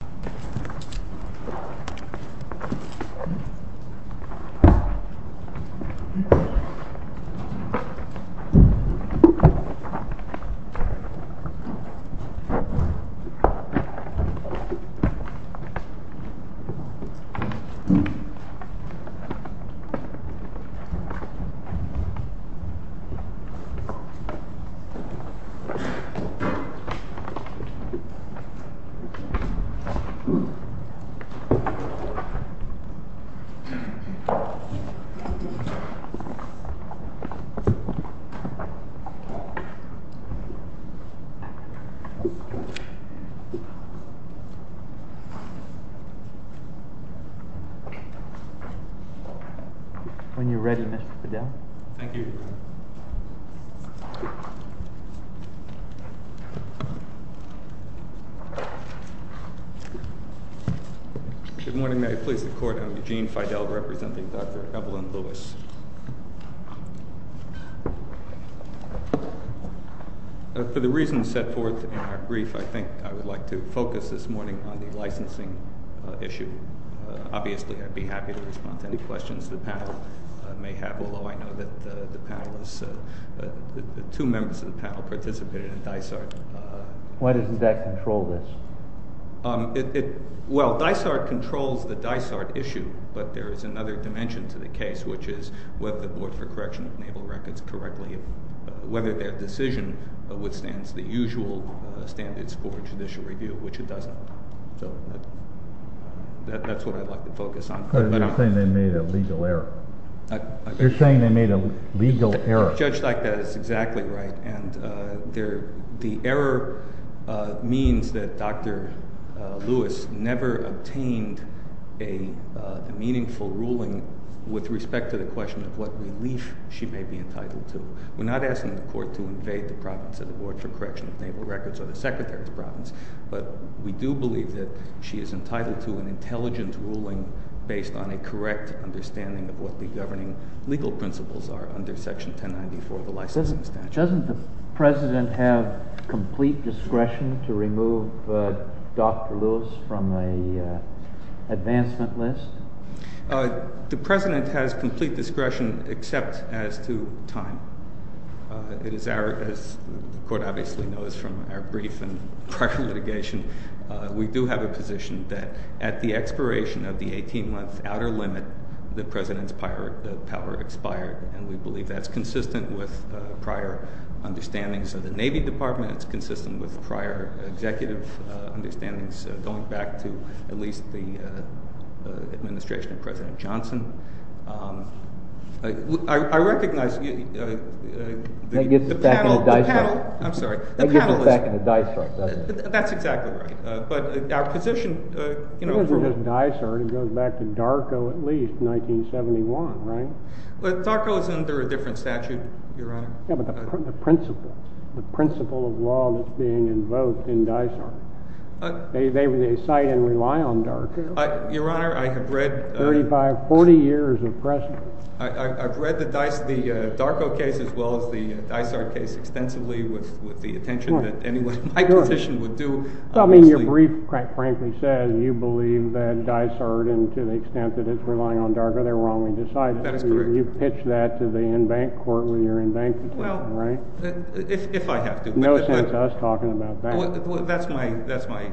November 23, 1967, Footage provided by the student. When you're ready, Mr. Fidel. Thank you. Good morning. May I please the court? I'm Eugene Fidel, representing Dr. Evelyn Lewis. For the reasons set forth in our brief, I think I would like to focus this morning on the licensing issue. Obviously, I'd be happy to respond to any questions the panel may have, although I know that the two members of the panel participated in DICART. Why doesn't that control this? Well, DICART controls the DICART issue, but there is another dimension to the case, which is whether the Board for Correction of Naval Records correctly— whether their decision withstands the usual standards for judicial review, which it doesn't. So that's what I'd like to focus on. But you're saying they made a legal error. You're saying they made a legal error. A judge like that is exactly right, and the error means that Dr. Lewis never obtained a meaningful ruling with respect to the question of what relief she may be entitled to. We're not asking the court to invade the province of the Board for Correction of Naval Records or the secretary of the province, but we do believe that she is entitled to an intelligent ruling based on a correct understanding of what the governing legal principles are under Section 1094 of the licensing statute. Doesn't the president have complete discretion to remove Dr. Lewis from the advancement list? The president has complete discretion except as to time. As the court obviously knows from our brief and prior litigation, we do have a position that at the expiration of the 18-month outer limit, the president's power expired, and we believe that's consistent with prior understandings of the Navy Department. It's consistent with prior executive understandings going back to at least the administration of President Johnson. That gets us back in a dice rut. I'm sorry. That gets us back in a dice rut. That's exactly right. But our position— It wasn't just a dice rut. It goes back to Darko at least, 1971, right? Well, Darko is under a different statute, Your Honor. Yeah, but the principle, the principle of law that's being invoked in Dice Art. They cite and rely on Darko. Your Honor, I have read— 35, 40 years of precedent. I've read the Darko case as well as the Dice Art case extensively with the attention that anyone in my position would do. I mean, your brief, quite frankly, says you believe that Dice Art, and to the extent that it's relying on Darko, they're wrongly decided. That is correct. You've pitched that to the in-bank court where you're in bankruptcy, right? Well, if I have to, but— No sense to us talking about that. That's my—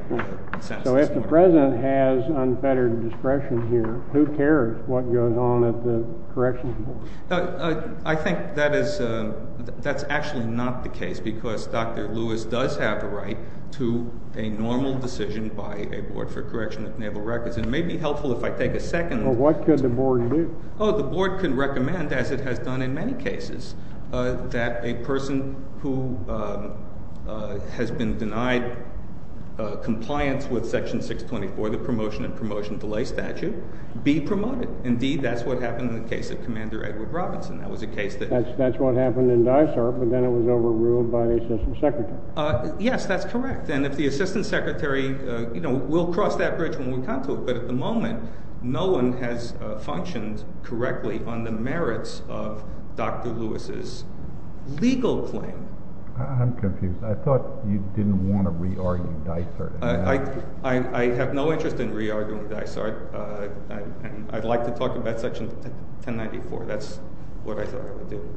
So if the president has unfettered discretion here, who cares what goes on at the corrections board? I think that is—that's actually not the case because Dr. Lewis does have a right to a normal decision by a board for correction of naval records. It may be helpful if I take a second— Well, what could the board do? Oh, the board could recommend, as it has done in many cases, that a person who has been denied compliance with Section 624, the promotion and promotion delay statute, be promoted. Indeed, that's what happened in the case of Commander Edward Robinson. That was a case that— That's what happened in Dice Art, but then it was overruled by the assistant secretary. Yes, that's correct. We'll cross that bridge when we come to it, but at the moment, no one has functioned correctly on the merits of Dr. Lewis's legal claim. I'm confused. I thought you didn't want to re-argue Dice Art. I have no interest in re-arguing Dice Art, and I'd like to talk about Section 1094. That's what I thought I would do.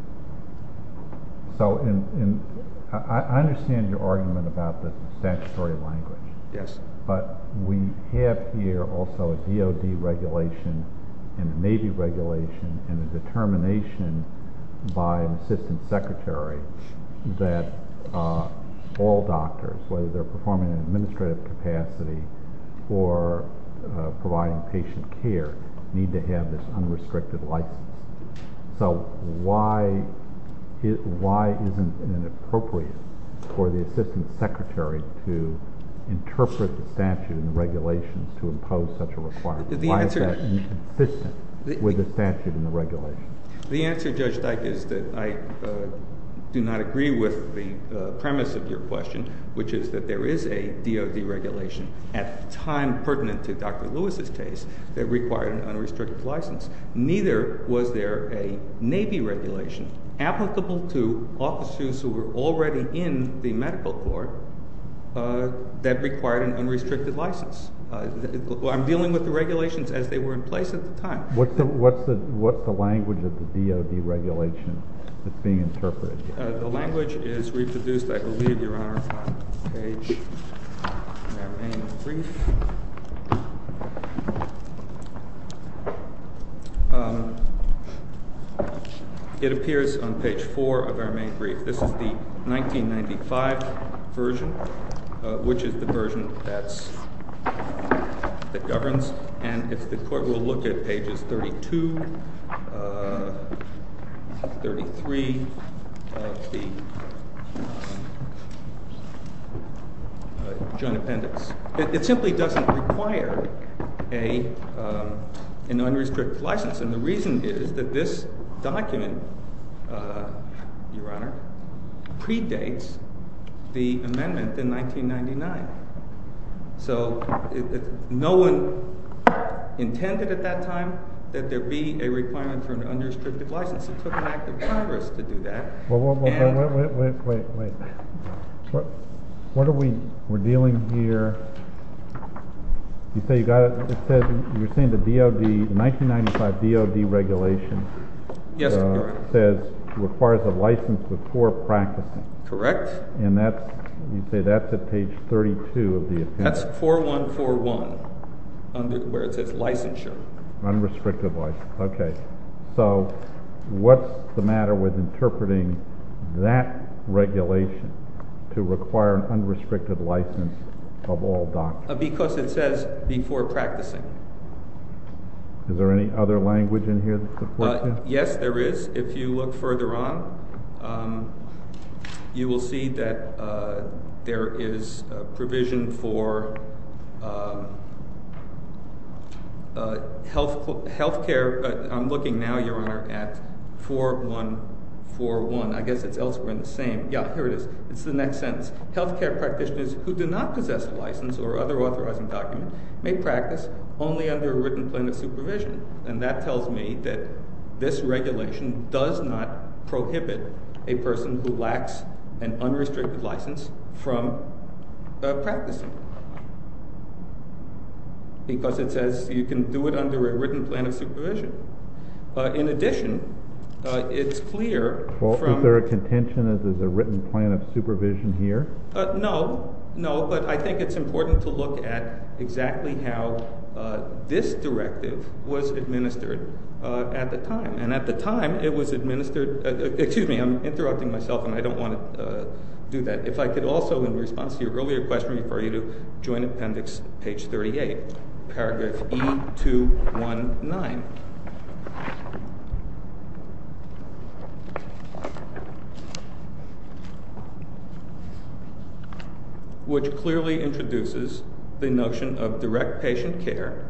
I understand your argument about the statutory language. Yes. But we have here also a DOD regulation and a Navy regulation and a determination by an assistant secretary that all doctors, whether they're performing in an administrative capacity or providing patient care, need to have this unrestricted license. So why isn't it inappropriate for the assistant secretary to interpret the statute and the regulations to impose such a requirement? Why is that inconsistent with the statute and the regulations? The answer, Judge Dike, is that I do not agree with the premise of your question, which is that there is a DOD regulation at the time pertinent to Dr. Lewis's case that required an unrestricted license. Neither was there a Navy regulation applicable to officers who were already in the medical court that required an unrestricted license. I'm dealing with the regulations as they were in place at the time. What's the language of the DOD regulation that's being interpreted here? The language is reproduced, I believe, Your Honor, on the page in that main brief. It appears on page 4 of our main brief. This is the 1995 version, which is the version that governs. And the court will look at pages 32, 33 of the joint appendix. It simply doesn't require an unrestricted license. And the reason is that this document, Your Honor, predates the amendment in 1999. So no one intended at that time that there be a requirement for an unrestricted license. It took an act of Congress to do that. Well, wait, wait, wait. What are we dealing here? You say you got it. You're saying the DOD, the 1995 DOD regulation says it requires a license before practicing. Correct. And you say that's at page 32 of the appendix. That's 4141, where it says licensure. Unrestricted license. Okay. So what's the matter with interpreting that regulation to require an unrestricted license of all doctors? Because it says before practicing. Is there any other language in here that supports that? Yes, there is. If you look further on, you will see that there is provision for healthcare. I'm looking now, Your Honor, at 4141. I guess it's elsewhere in the same. Yeah, here it is. It's the next sentence. Healthcare practitioners who do not possess a license or other authorizing document may practice only under a written plan of supervision. And that tells me that this regulation does not prohibit a person who lacks an unrestricted license from practicing. Because it says you can do it under a written plan of supervision. In addition, it's clear from— Is there a contention that there's a written plan of supervision here? No. No, but I think it's important to look at exactly how this directive was administered at the time. And at the time, it was administered—excuse me, I'm interrupting myself, and I don't want to do that. If I could also, in response to your earlier question, refer you to Joint Appendix, page 38, paragraph E219. Which clearly introduces the notion of direct patient care,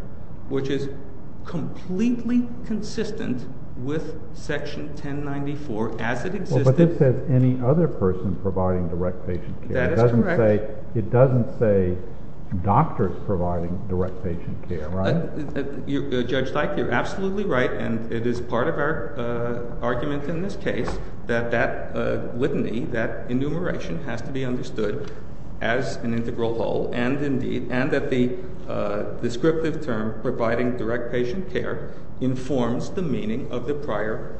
which is completely consistent with Section 1094 as it existed. Well, but it says any other person providing direct patient care. That is correct. It doesn't say doctors providing direct patient care, right? Judge Teich, you're absolutely right, and it is part of our argument in this case that that litany, that enumeration, has to be understood as an integral whole. And that the descriptive term providing direct patient care informs the meaning of the prior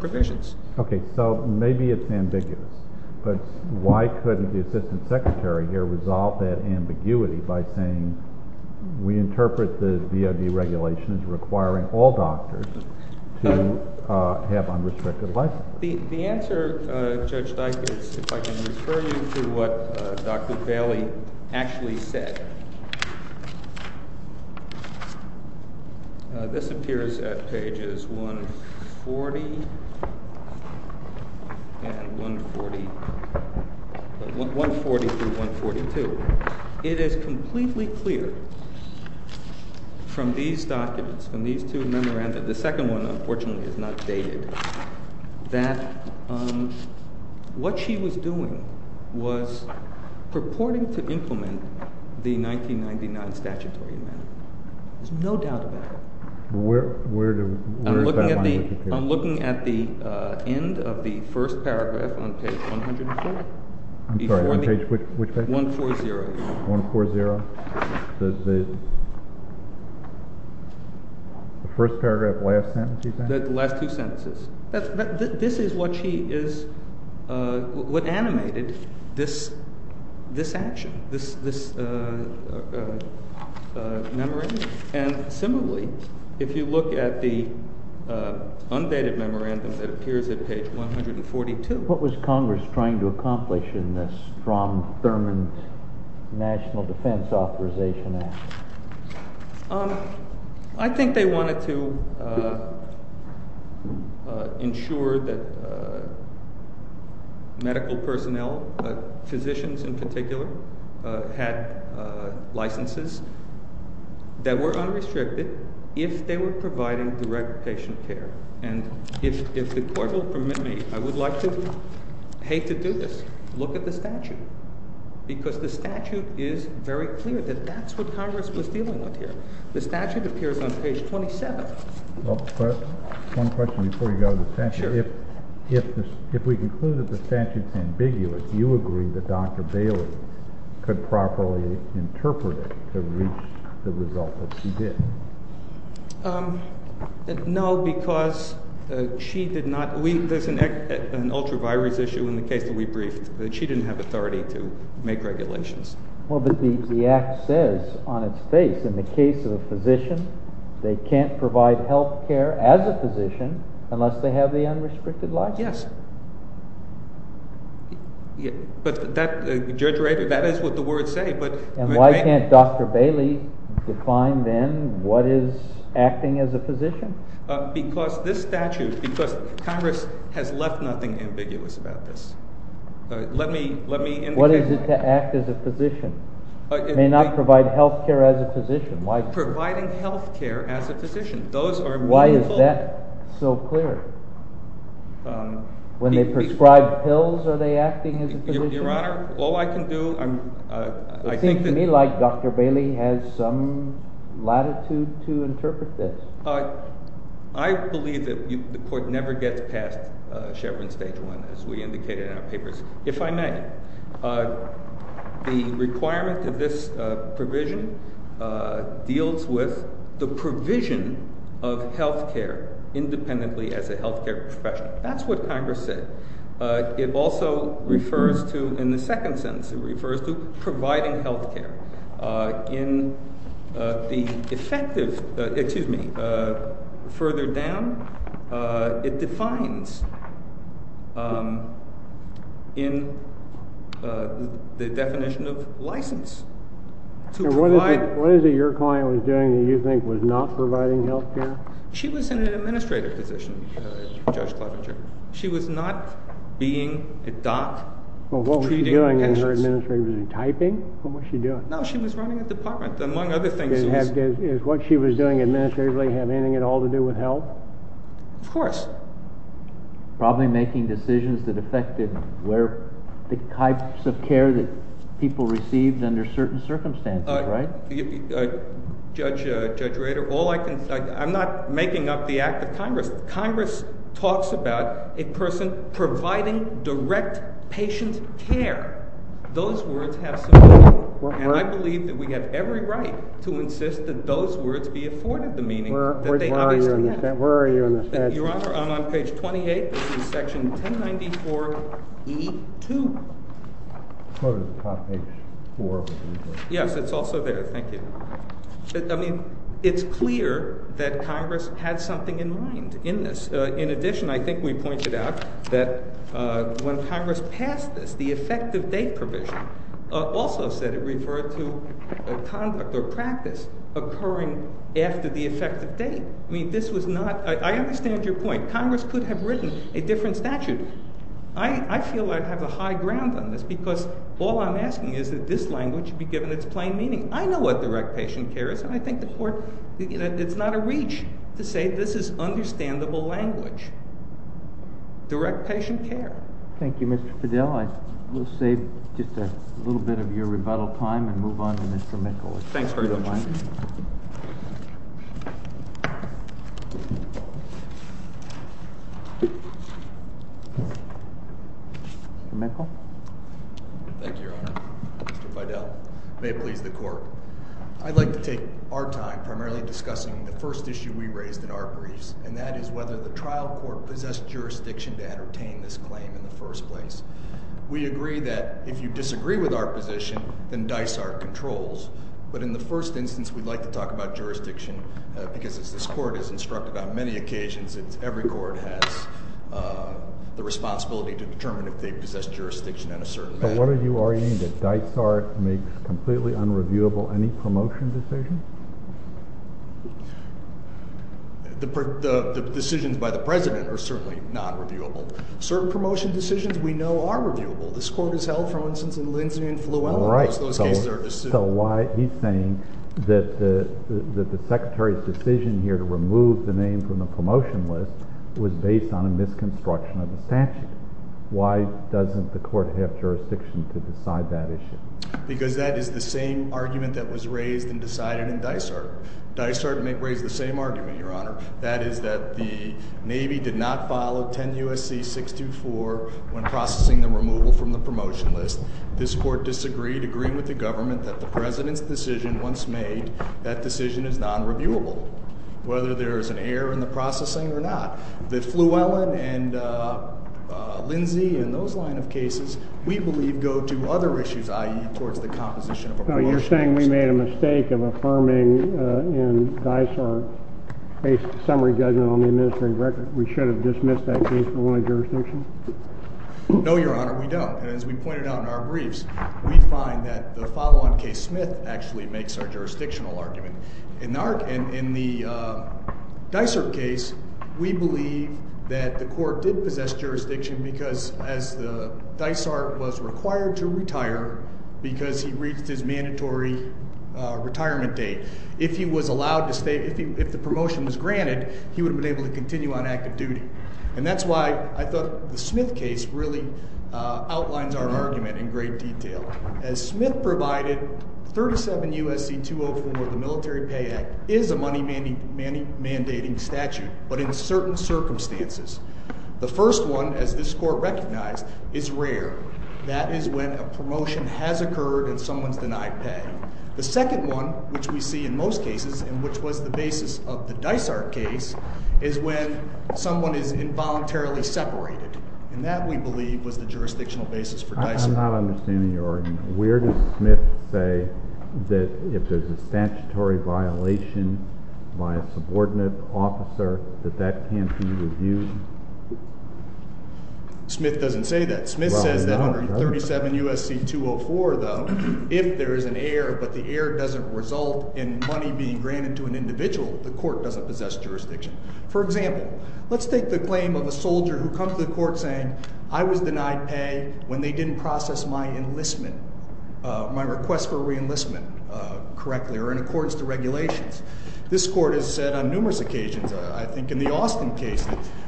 provisions. Okay, so maybe it's ambiguous. But why couldn't the Assistant Secretary here resolve that ambiguity by saying we interpret the DOD regulation as requiring all doctors to have unrestricted license? The answer, Judge Teich, is if I can refer you to what Dr. Bailey actually said. This appears at pages 140 and 140, 140 through 142. It is completely clear from these documents, from these two memoranda, the second one, unfortunately, is not dated, that what she was doing was purporting to implement the 1999 Statutory Amendment. There's no doubt about it. Where is that line? I'm looking at the end of the first paragraph on page 140. I'm sorry, which page? 140. 140? The first paragraph last sentence, you think? The last two sentences. This is what she is, what animated this action, this memorandum. And similarly, if you look at the undated memorandum that appears at page 142. What was Congress trying to accomplish in this Strom Thurmond National Defense Authorization Act? I think they wanted to ensure that medical personnel, physicians in particular, had licenses that were unrestricted if they were providing direct patient care. And if the court will permit me, I would like to, I hate to do this, look at the statute. Because the statute is very clear that that's what Congress was dealing with here. The statute appears on page 27. Well, one question before you go to the statute. Sure. If we conclude that the statute is ambiguous, do you agree that Dr. Bailey could properly interpret it to reach the result that she did? No, because she did not, there's an ultra-virus issue in the case that we briefed. She didn't have authority to make regulations. Well, but the act says on its face, in the case of a physician, they can't provide health care as a physician unless they have the unrestricted license. Yes. But that, Judge Ray, that is what the words say. And why can't Dr. Bailey define then what is acting as a physician? Because this statute, because Congress has left nothing ambiguous about this. Let me indicate that. What is it to act as a physician? It may not provide health care as a physician. Providing health care as a physician. Why is that so clear? When they prescribe pills, are they acting as a physician? Your Honor, all I can do, I think that— It seems to me like Dr. Bailey has some latitude to interpret this. I believe that the court never gets past Chevron Stage 1, as we indicated in our papers, if I may. The requirement of this provision deals with the provision of health care independently as a health care profession. That's what Congress said. It also refers to, in the second sentence, it refers to providing health care. In the effective—excuse me, further down, it defines in the definition of license. What is it your client was doing that you think was not providing health care? She was in an administrative position, Judge Klobuchar. She was not being a doc treating patients. Well, what was she doing in her administrative position? Typing? What was she doing? No, she was running a department, among other things. Did what she was doing administratively have anything at all to do with health? Of course. Probably making decisions that affected the types of care that people received under certain circumstances, right? Judge Rader, all I can—I'm not making up the act of Congress. Congress talks about a person providing direct patient care. Those words have some meaning. And I believe that we have every right to insist that those words be afforded the meaning that they obviously have. Where are you on this, Judge? Your Honor, I'm on page 28. This is section 1094E2. Go to the top, page 4. Yes, it's also there. Thank you. I mean, it's clear that Congress had something in mind in this. In addition, I think we pointed out that when Congress passed this, the effective date provision also said it referred to conduct or practice occurring after the effective date. I mean, this was not—I understand your point. Congress could have written a different statute. I feel I have a high ground on this because all I'm asking is that this language be given its plain meaning. I know what direct patient care is, and I think the Court—it's not a reach to say this is understandable language. Direct patient care. Thank you, Mr. Fidell. I will save just a little bit of your rebuttal time and move on to Mr. Mikkel. Thanks very much. Mr. Mikkel. Thank you, Your Honor. Mr. Fidell. May it please the Court. I'd like to take our time primarily discussing the first issue we raised in our briefs, and that is whether the trial court possessed jurisdiction to entertain this claim in the first place. We agree that if you disagree with our position, then dice are controls. But in the first instance, we'd like to talk about jurisdiction because, as this Court has instructed on many occasions, every court has the responsibility to determine if they possess jurisdiction on a certain matter. So what are you arguing? That dice are—makes completely unreviewable any promotion decision? The decisions by the President are certainly not reviewable. Certain promotion decisions we know are reviewable. This Court has held, for instance, in Lindsay and Flouella. Right. Those cases are— So why—he's saying that the Secretary's decision here to remove the name from the promotion list was based on a misconstruction of the statute. Why doesn't the Court have jurisdiction to decide that issue? Because that is the same argument that was raised and decided in Dysart. Dysart may raise the same argument, Your Honor. That is that the Navy did not follow 10 U.S.C. 624 when processing the removal from the promotion list. This Court disagreed, agreeing with the government that the President's decision, once made, that decision is nonreviewable, whether there is an error in the processing or not. The Flouella and Lindsay and those line of cases, we believe, go to other issues, i.e., towards the composition of a promotion list. So you're saying we made a mistake of affirming in Dysart a summary judgment on the administrative record. We should have dismissed that case and won a jurisdiction? No, Your Honor, we don't. And as we pointed out in our briefs, we find that the follow-on case Smith actually makes our jurisdictional argument. In the Dysart case, we believe that the Court did possess jurisdiction because Dysart was required to retire because he reached his mandatory retirement date. If he was allowed to stay, if the promotion was granted, he would have been able to continue on active duty. And that's why I thought the Smith case really outlines our argument in great detail. As Smith provided, 37 U.S.C. 204 of the Military Pay Act is a money-mandating statute, but in certain circumstances. The first one, as this Court recognized, is rare. That is when a promotion has occurred and someone's denied pay. The second one, which we see in most cases and which was the basis of the Dysart case, is when someone is involuntarily separated. And that, we believe, was the jurisdictional basis for Dysart. I'm not understanding your argument. Where does Smith say that if there's a statutory violation by a subordinate officer that that can't be reviewed? Smith doesn't say that. Smith says that under 37 U.S.C. 204, though, if there is an error but the error doesn't result in money being granted to an individual, the Court doesn't possess jurisdiction. For example, let's take the claim of a soldier who comes to the Court saying, I was denied pay when they didn't process my enlistment, my request for re-enlistment correctly or in accordance to regulations. This Court has said on numerous occasions, I think in the Austin case,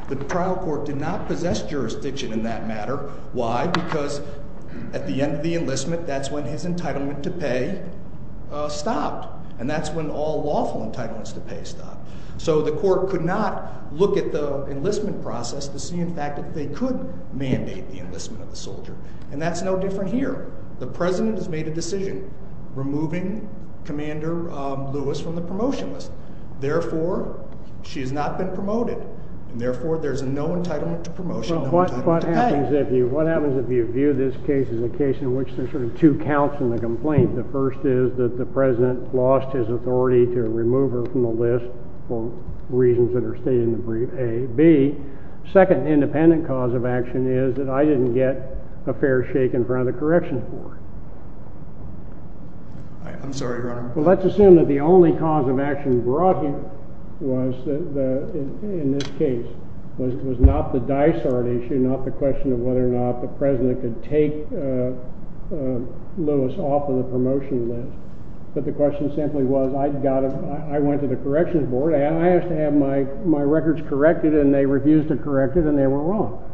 that the trial court did not possess jurisdiction in that matter. Why? Because at the end of the enlistment, that's when his entitlement to pay stopped. And that's when all lawful entitlements to pay stop. So the Court could not look at the enlistment process to see, in fact, that they could mandate the enlistment of the soldier. And that's no different here. The President has made a decision removing Commander Lewis from the promotion list. Therefore, she has not been promoted. And therefore, there's no entitlement to promotion, no entitlement to pay. What happens if you view this case as a case in which there are sort of two counts in the complaint? The first is that the President lost his authority to remove her from the list for reasons that are stated in the brief A. B, second independent cause of action is that I didn't get a fair shake in front of the Corrections Board. Well, let's assume that the only cause of action brought here was, in this case, was not the Dysart issue, not the question of whether or not the President could take Lewis off of the promotion list. But the question simply was, I went to the Corrections Board. I asked to have my records corrected, and they refused to correct it, and they were wrong.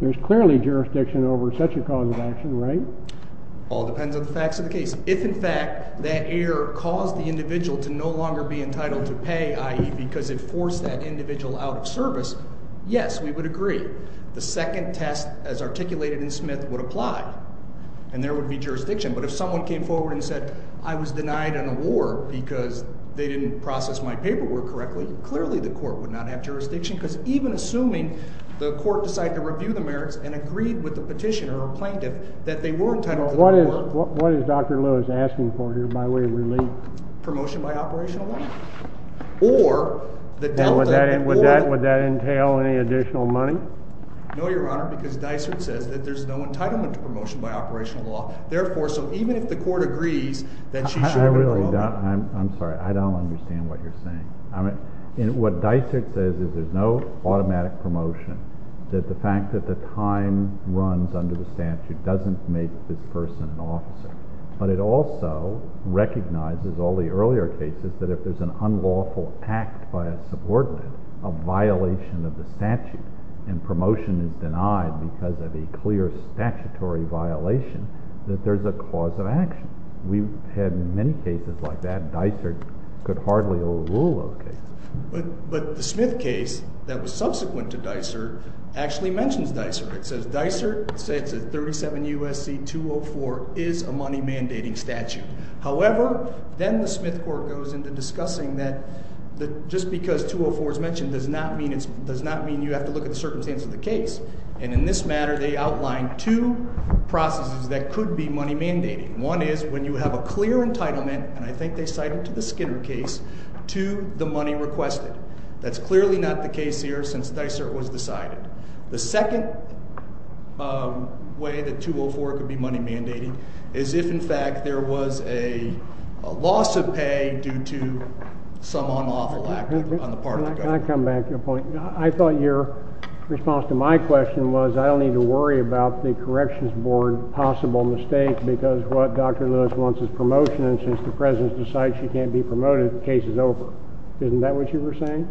There's clearly jurisdiction over such a cause of action, right? Well, it depends on the facts of the case. If, in fact, that error caused the individual to no longer be entitled to pay, i.e., because it forced that individual out of service, yes, we would agree. The second test, as articulated in Smith, would apply, and there would be jurisdiction. But if someone came forward and said, I was denied an award because they didn't process my paperwork correctly, clearly the court would not have jurisdiction because even assuming the court decided to review the merits and agreed with the petitioner or plaintiff that they were entitled to the award. Well, what is Dr. Lewis asking for here by way of relief? Promotion by operational law. Or the delta, or— Would that entail any additional money? No, Your Honor, because Dysart says that there's no entitlement to promotion by operational law. Therefore, so even if the court agrees that she should— I really don't. I'm sorry. I don't understand what you're saying. What Dysart says is there's no automatic promotion. The fact that the time runs under the statute doesn't make this person an officer. But it also recognizes all the earlier cases that if there's an unlawful act by a subordinate, a violation of the statute, and promotion is denied because of a clear statutory violation, that there's a cause of action. We've had many cases like that. Dysart could hardly overrule those cases. But the Smith case that was subsequent to Dysart actually mentions Dysart. It says Dysart says that 37 U.S.C. 204 is a money-mandating statute. However, then the Smith court goes into discussing that just because 204 is mentioned does not mean you have to look at the circumstance of the case. And in this matter, they outline two processes that could be money-mandating. One is when you have a clear entitlement, and I think they cite it to the Skinner case, to the money requested. That's clearly not the case here since Dysart was decided. The second way that 204 could be money-mandating is if, in fact, there was a loss of pay due to some unlawful act on the part of the government. I thought your response to my question was I don't need to worry about the Corrections Board possible mistake because what Dr. Lewis wants is promotion. And since the President has decided she can't be promoted, the case is over. Isn't that what you were saying?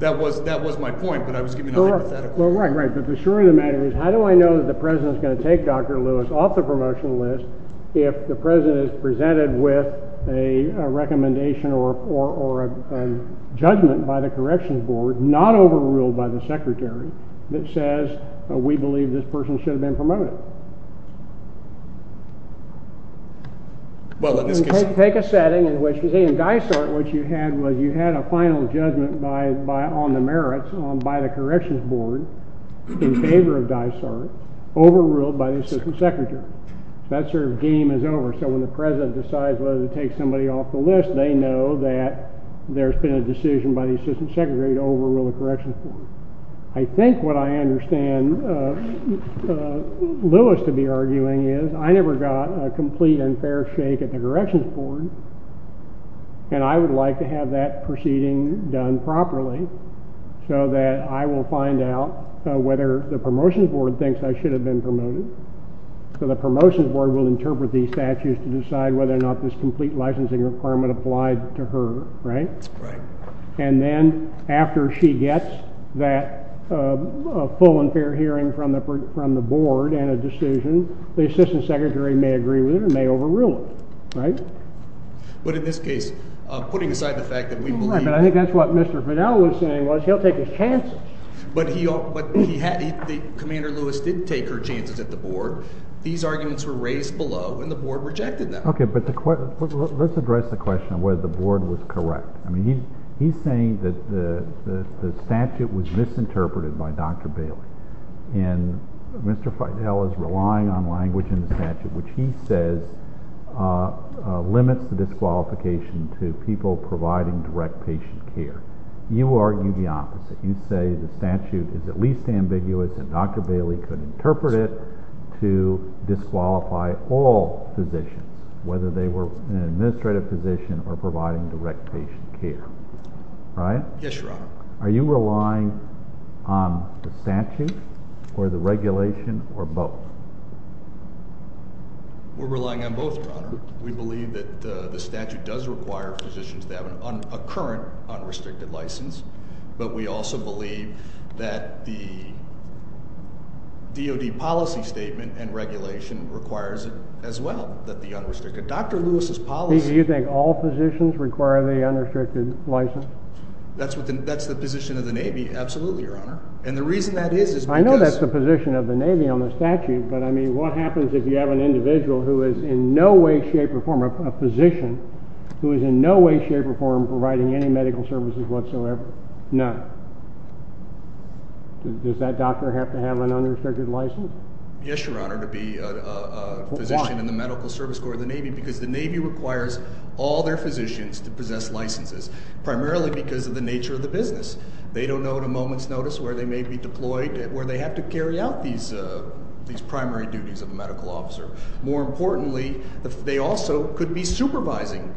That was my point, but I was giving a hypothetical. Well, right, right, but for sure the matter is how do I know that the President is going to take Dr. Lewis off the promotion list if the President is presented with a recommendation or a judgment by the Corrections Board, not overruled by the Secretary, that says we believe this person should have been promoted? Take a setting in which, in Dysart, what you had was you had a final judgment on the merits by the Corrections Board in favor of Dysart overruled by the Assistant Secretary. That sort of game is over. So when the President decides whether to take somebody off the list, they know that there's been a decision by the Assistant Secretary to overrule the Corrections Board. I think what I understand Lewis to be arguing is I never got a complete and fair shake at the Corrections Board, and I would like to have that proceeding done properly so that I will find out whether the Promotions Board thinks I should have been promoted. So the Promotions Board will interpret these statutes to decide whether or not this complete licensing requirement applied to her, right? And then after she gets that full and fair hearing from the Board and a decision, the Assistant Secretary may agree with it and may overrule it, right? But in this case, putting aside the fact that we believe— Right, but I think that's what Mr. Fidele was saying was he'll take his chances. But he had—Commander Lewis did take her chances at the Board. These arguments were raised below, and the Board rejected them. Okay, but let's address the question of whether the Board was correct. I mean, he's saying that the statute was misinterpreted by Dr. Bailey, and Mr. Fidele is relying on language in the statute which he says limits the disqualification to people providing direct patient care. You argue the opposite. You say the statute is at least ambiguous and Dr. Bailey could interpret it to disqualify all physicians, whether they were an administrative physician or providing direct patient care. Right? Yes, Your Honor. Are you relying on the statute or the regulation or both? We're relying on both, Your Honor. We believe that the statute does require physicians to have a current unrestricted license, but we also believe that the DOD policy statement and regulation requires it as well, that the unrestricted—Dr. Lewis's policy— Do you think all physicians require the unrestricted license? That's the position of the Navy, absolutely, Your Honor. And the reason that is is because— A physician who is in no way, shape, or form providing any medical services whatsoever? No. Does that doctor have to have an unrestricted license? Yes, Your Honor, to be a physician in the Medical Service Corps of the Navy because the Navy requires all their physicians to possess licenses, primarily because of the nature of the business. They don't know at a moment's notice where they may be deployed, where they have to carry out these primary duties of a medical officer. More importantly, they also could be supervising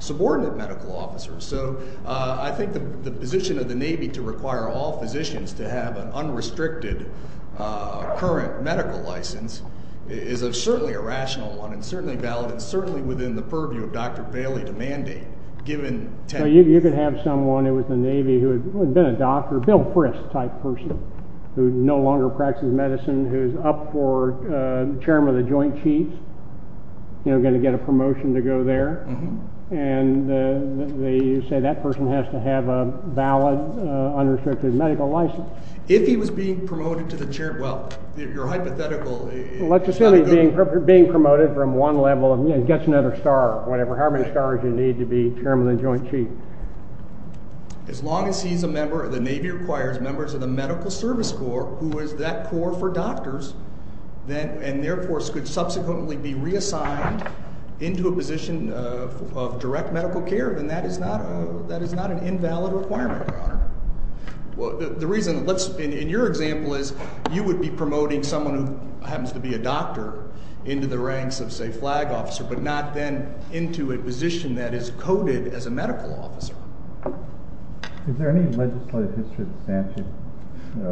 subordinate medical officers. So I think the position of the Navy to require all physicians to have an unrestricted current medical license is certainly a rational one and certainly valid and certainly within the purview of Dr. Bailey to mandate, given— So you could have someone who was in the Navy who had been a doctor, Bill Frist-type person, who no longer practices medicine, who's up for chairman of the Joint Chiefs, you know, going to get a promotion to go there. And they say that person has to have a valid unrestricted medical license. If he was being promoted to the chair—well, your hypothetical— Let's assume he's being promoted from one level and gets another star, whatever, however many stars you need to be chairman of the Joint Chiefs. As long as he's a member—the Navy requires members of the Medical Service Corps, who is that corps for doctors, and therefore could subsequently be reassigned into a position of direct medical care, then that is not an invalid requirement, Your Honor. Well, the reason—let's—in your example is you would be promoting someone who happens to be a doctor into the ranks of, say, flag officer but not then into a position that is coded as a medical officer. Is there any legislative history of the statute?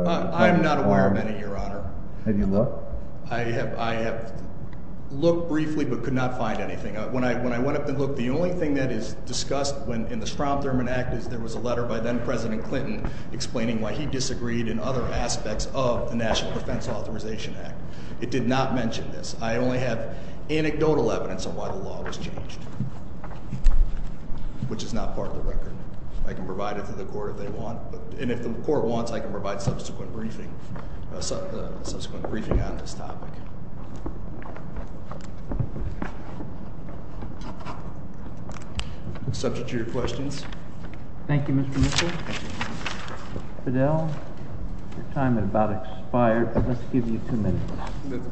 I am not aware of any, Your Honor. Have you looked? I have looked briefly but could not find anything. When I went up and looked, the only thing that is discussed in the Strom Thurmond Act is there was a letter by then-President Clinton explaining why he disagreed in other aspects of the National Defense Authorization Act. It did not mention this. I only have anecdotal evidence of why the law was changed, which is not part of the record. I can provide it to the court if they want. And if the court wants, I can provide subsequent briefing on this topic. Subject to your questions? Thank you, Mr. Mitchell. Fidel, your time had about expired, but let's give you two minutes.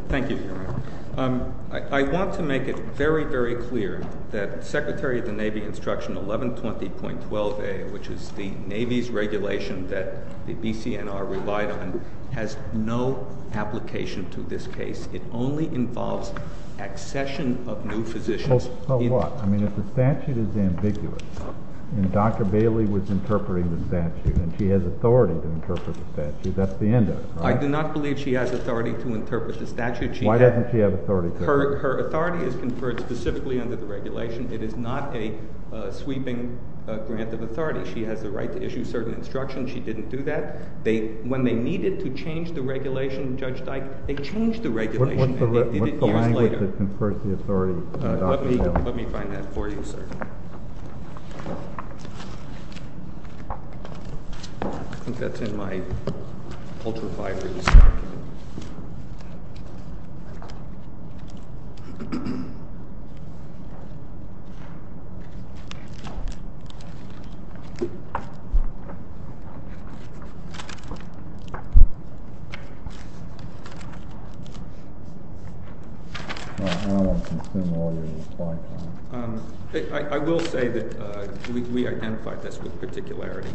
Thank you, Your Honor. I want to make it very, very clear that Secretary of the Navy Instruction 1120.12a, which is the Navy's regulation that the BCNR relied on, has no application to this case. It only involves accession of new physicians. So what? I mean, if the statute is ambiguous and Dr. Bailey was interpreting the statute and she has authority to interpret the statute, that's the end of it, right? I do not believe she has authority to interpret the statute. Why doesn't she have authority? Her authority is conferred specifically under the regulation. It is not a sweeping grant of authority. She has the right to issue certain instructions. She didn't do that. When they needed to change the regulation, Judge Dike, they changed the regulation and did it years later. What's the language that confers the authority? Let me find that for you, sir. I think that's in my ultra-fibrous. I will say that we identified this with particularity.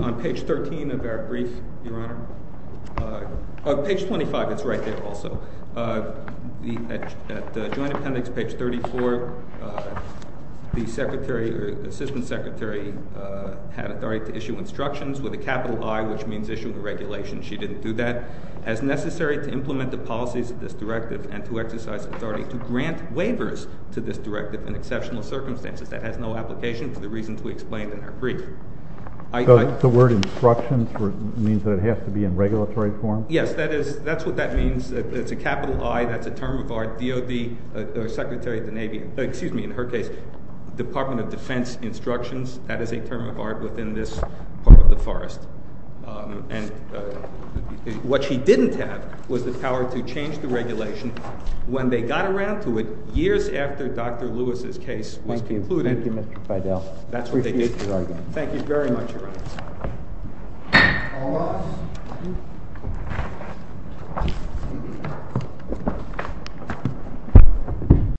On page 13 of our brief, Your Honor—page 25, it's right there also. At the Joint Appendix, page 34, the secretary or assistant secretary had authority to issue instructions with a capital I, which means issue the regulation. She didn't do that. As necessary to implement the policies of this directive and to exercise authority to grant waivers to this directive in exceptional circumstances, that has no application for the reasons we explained in our brief. The word instructions means that it has to be in regulatory form? Yes. That's what that means. It's a capital I. That's a term of art. DOD or Secretary of the Navy—excuse me, in her case, Department of Defense instructions. That is a term of art within this part of the forest. And what she didn't have was the power to change the regulation. When they got around to it, years after Dr. Lewis's case was concluded— Thank you, Mr. Feidel. That's what they did. Thank you very much, Your Honor.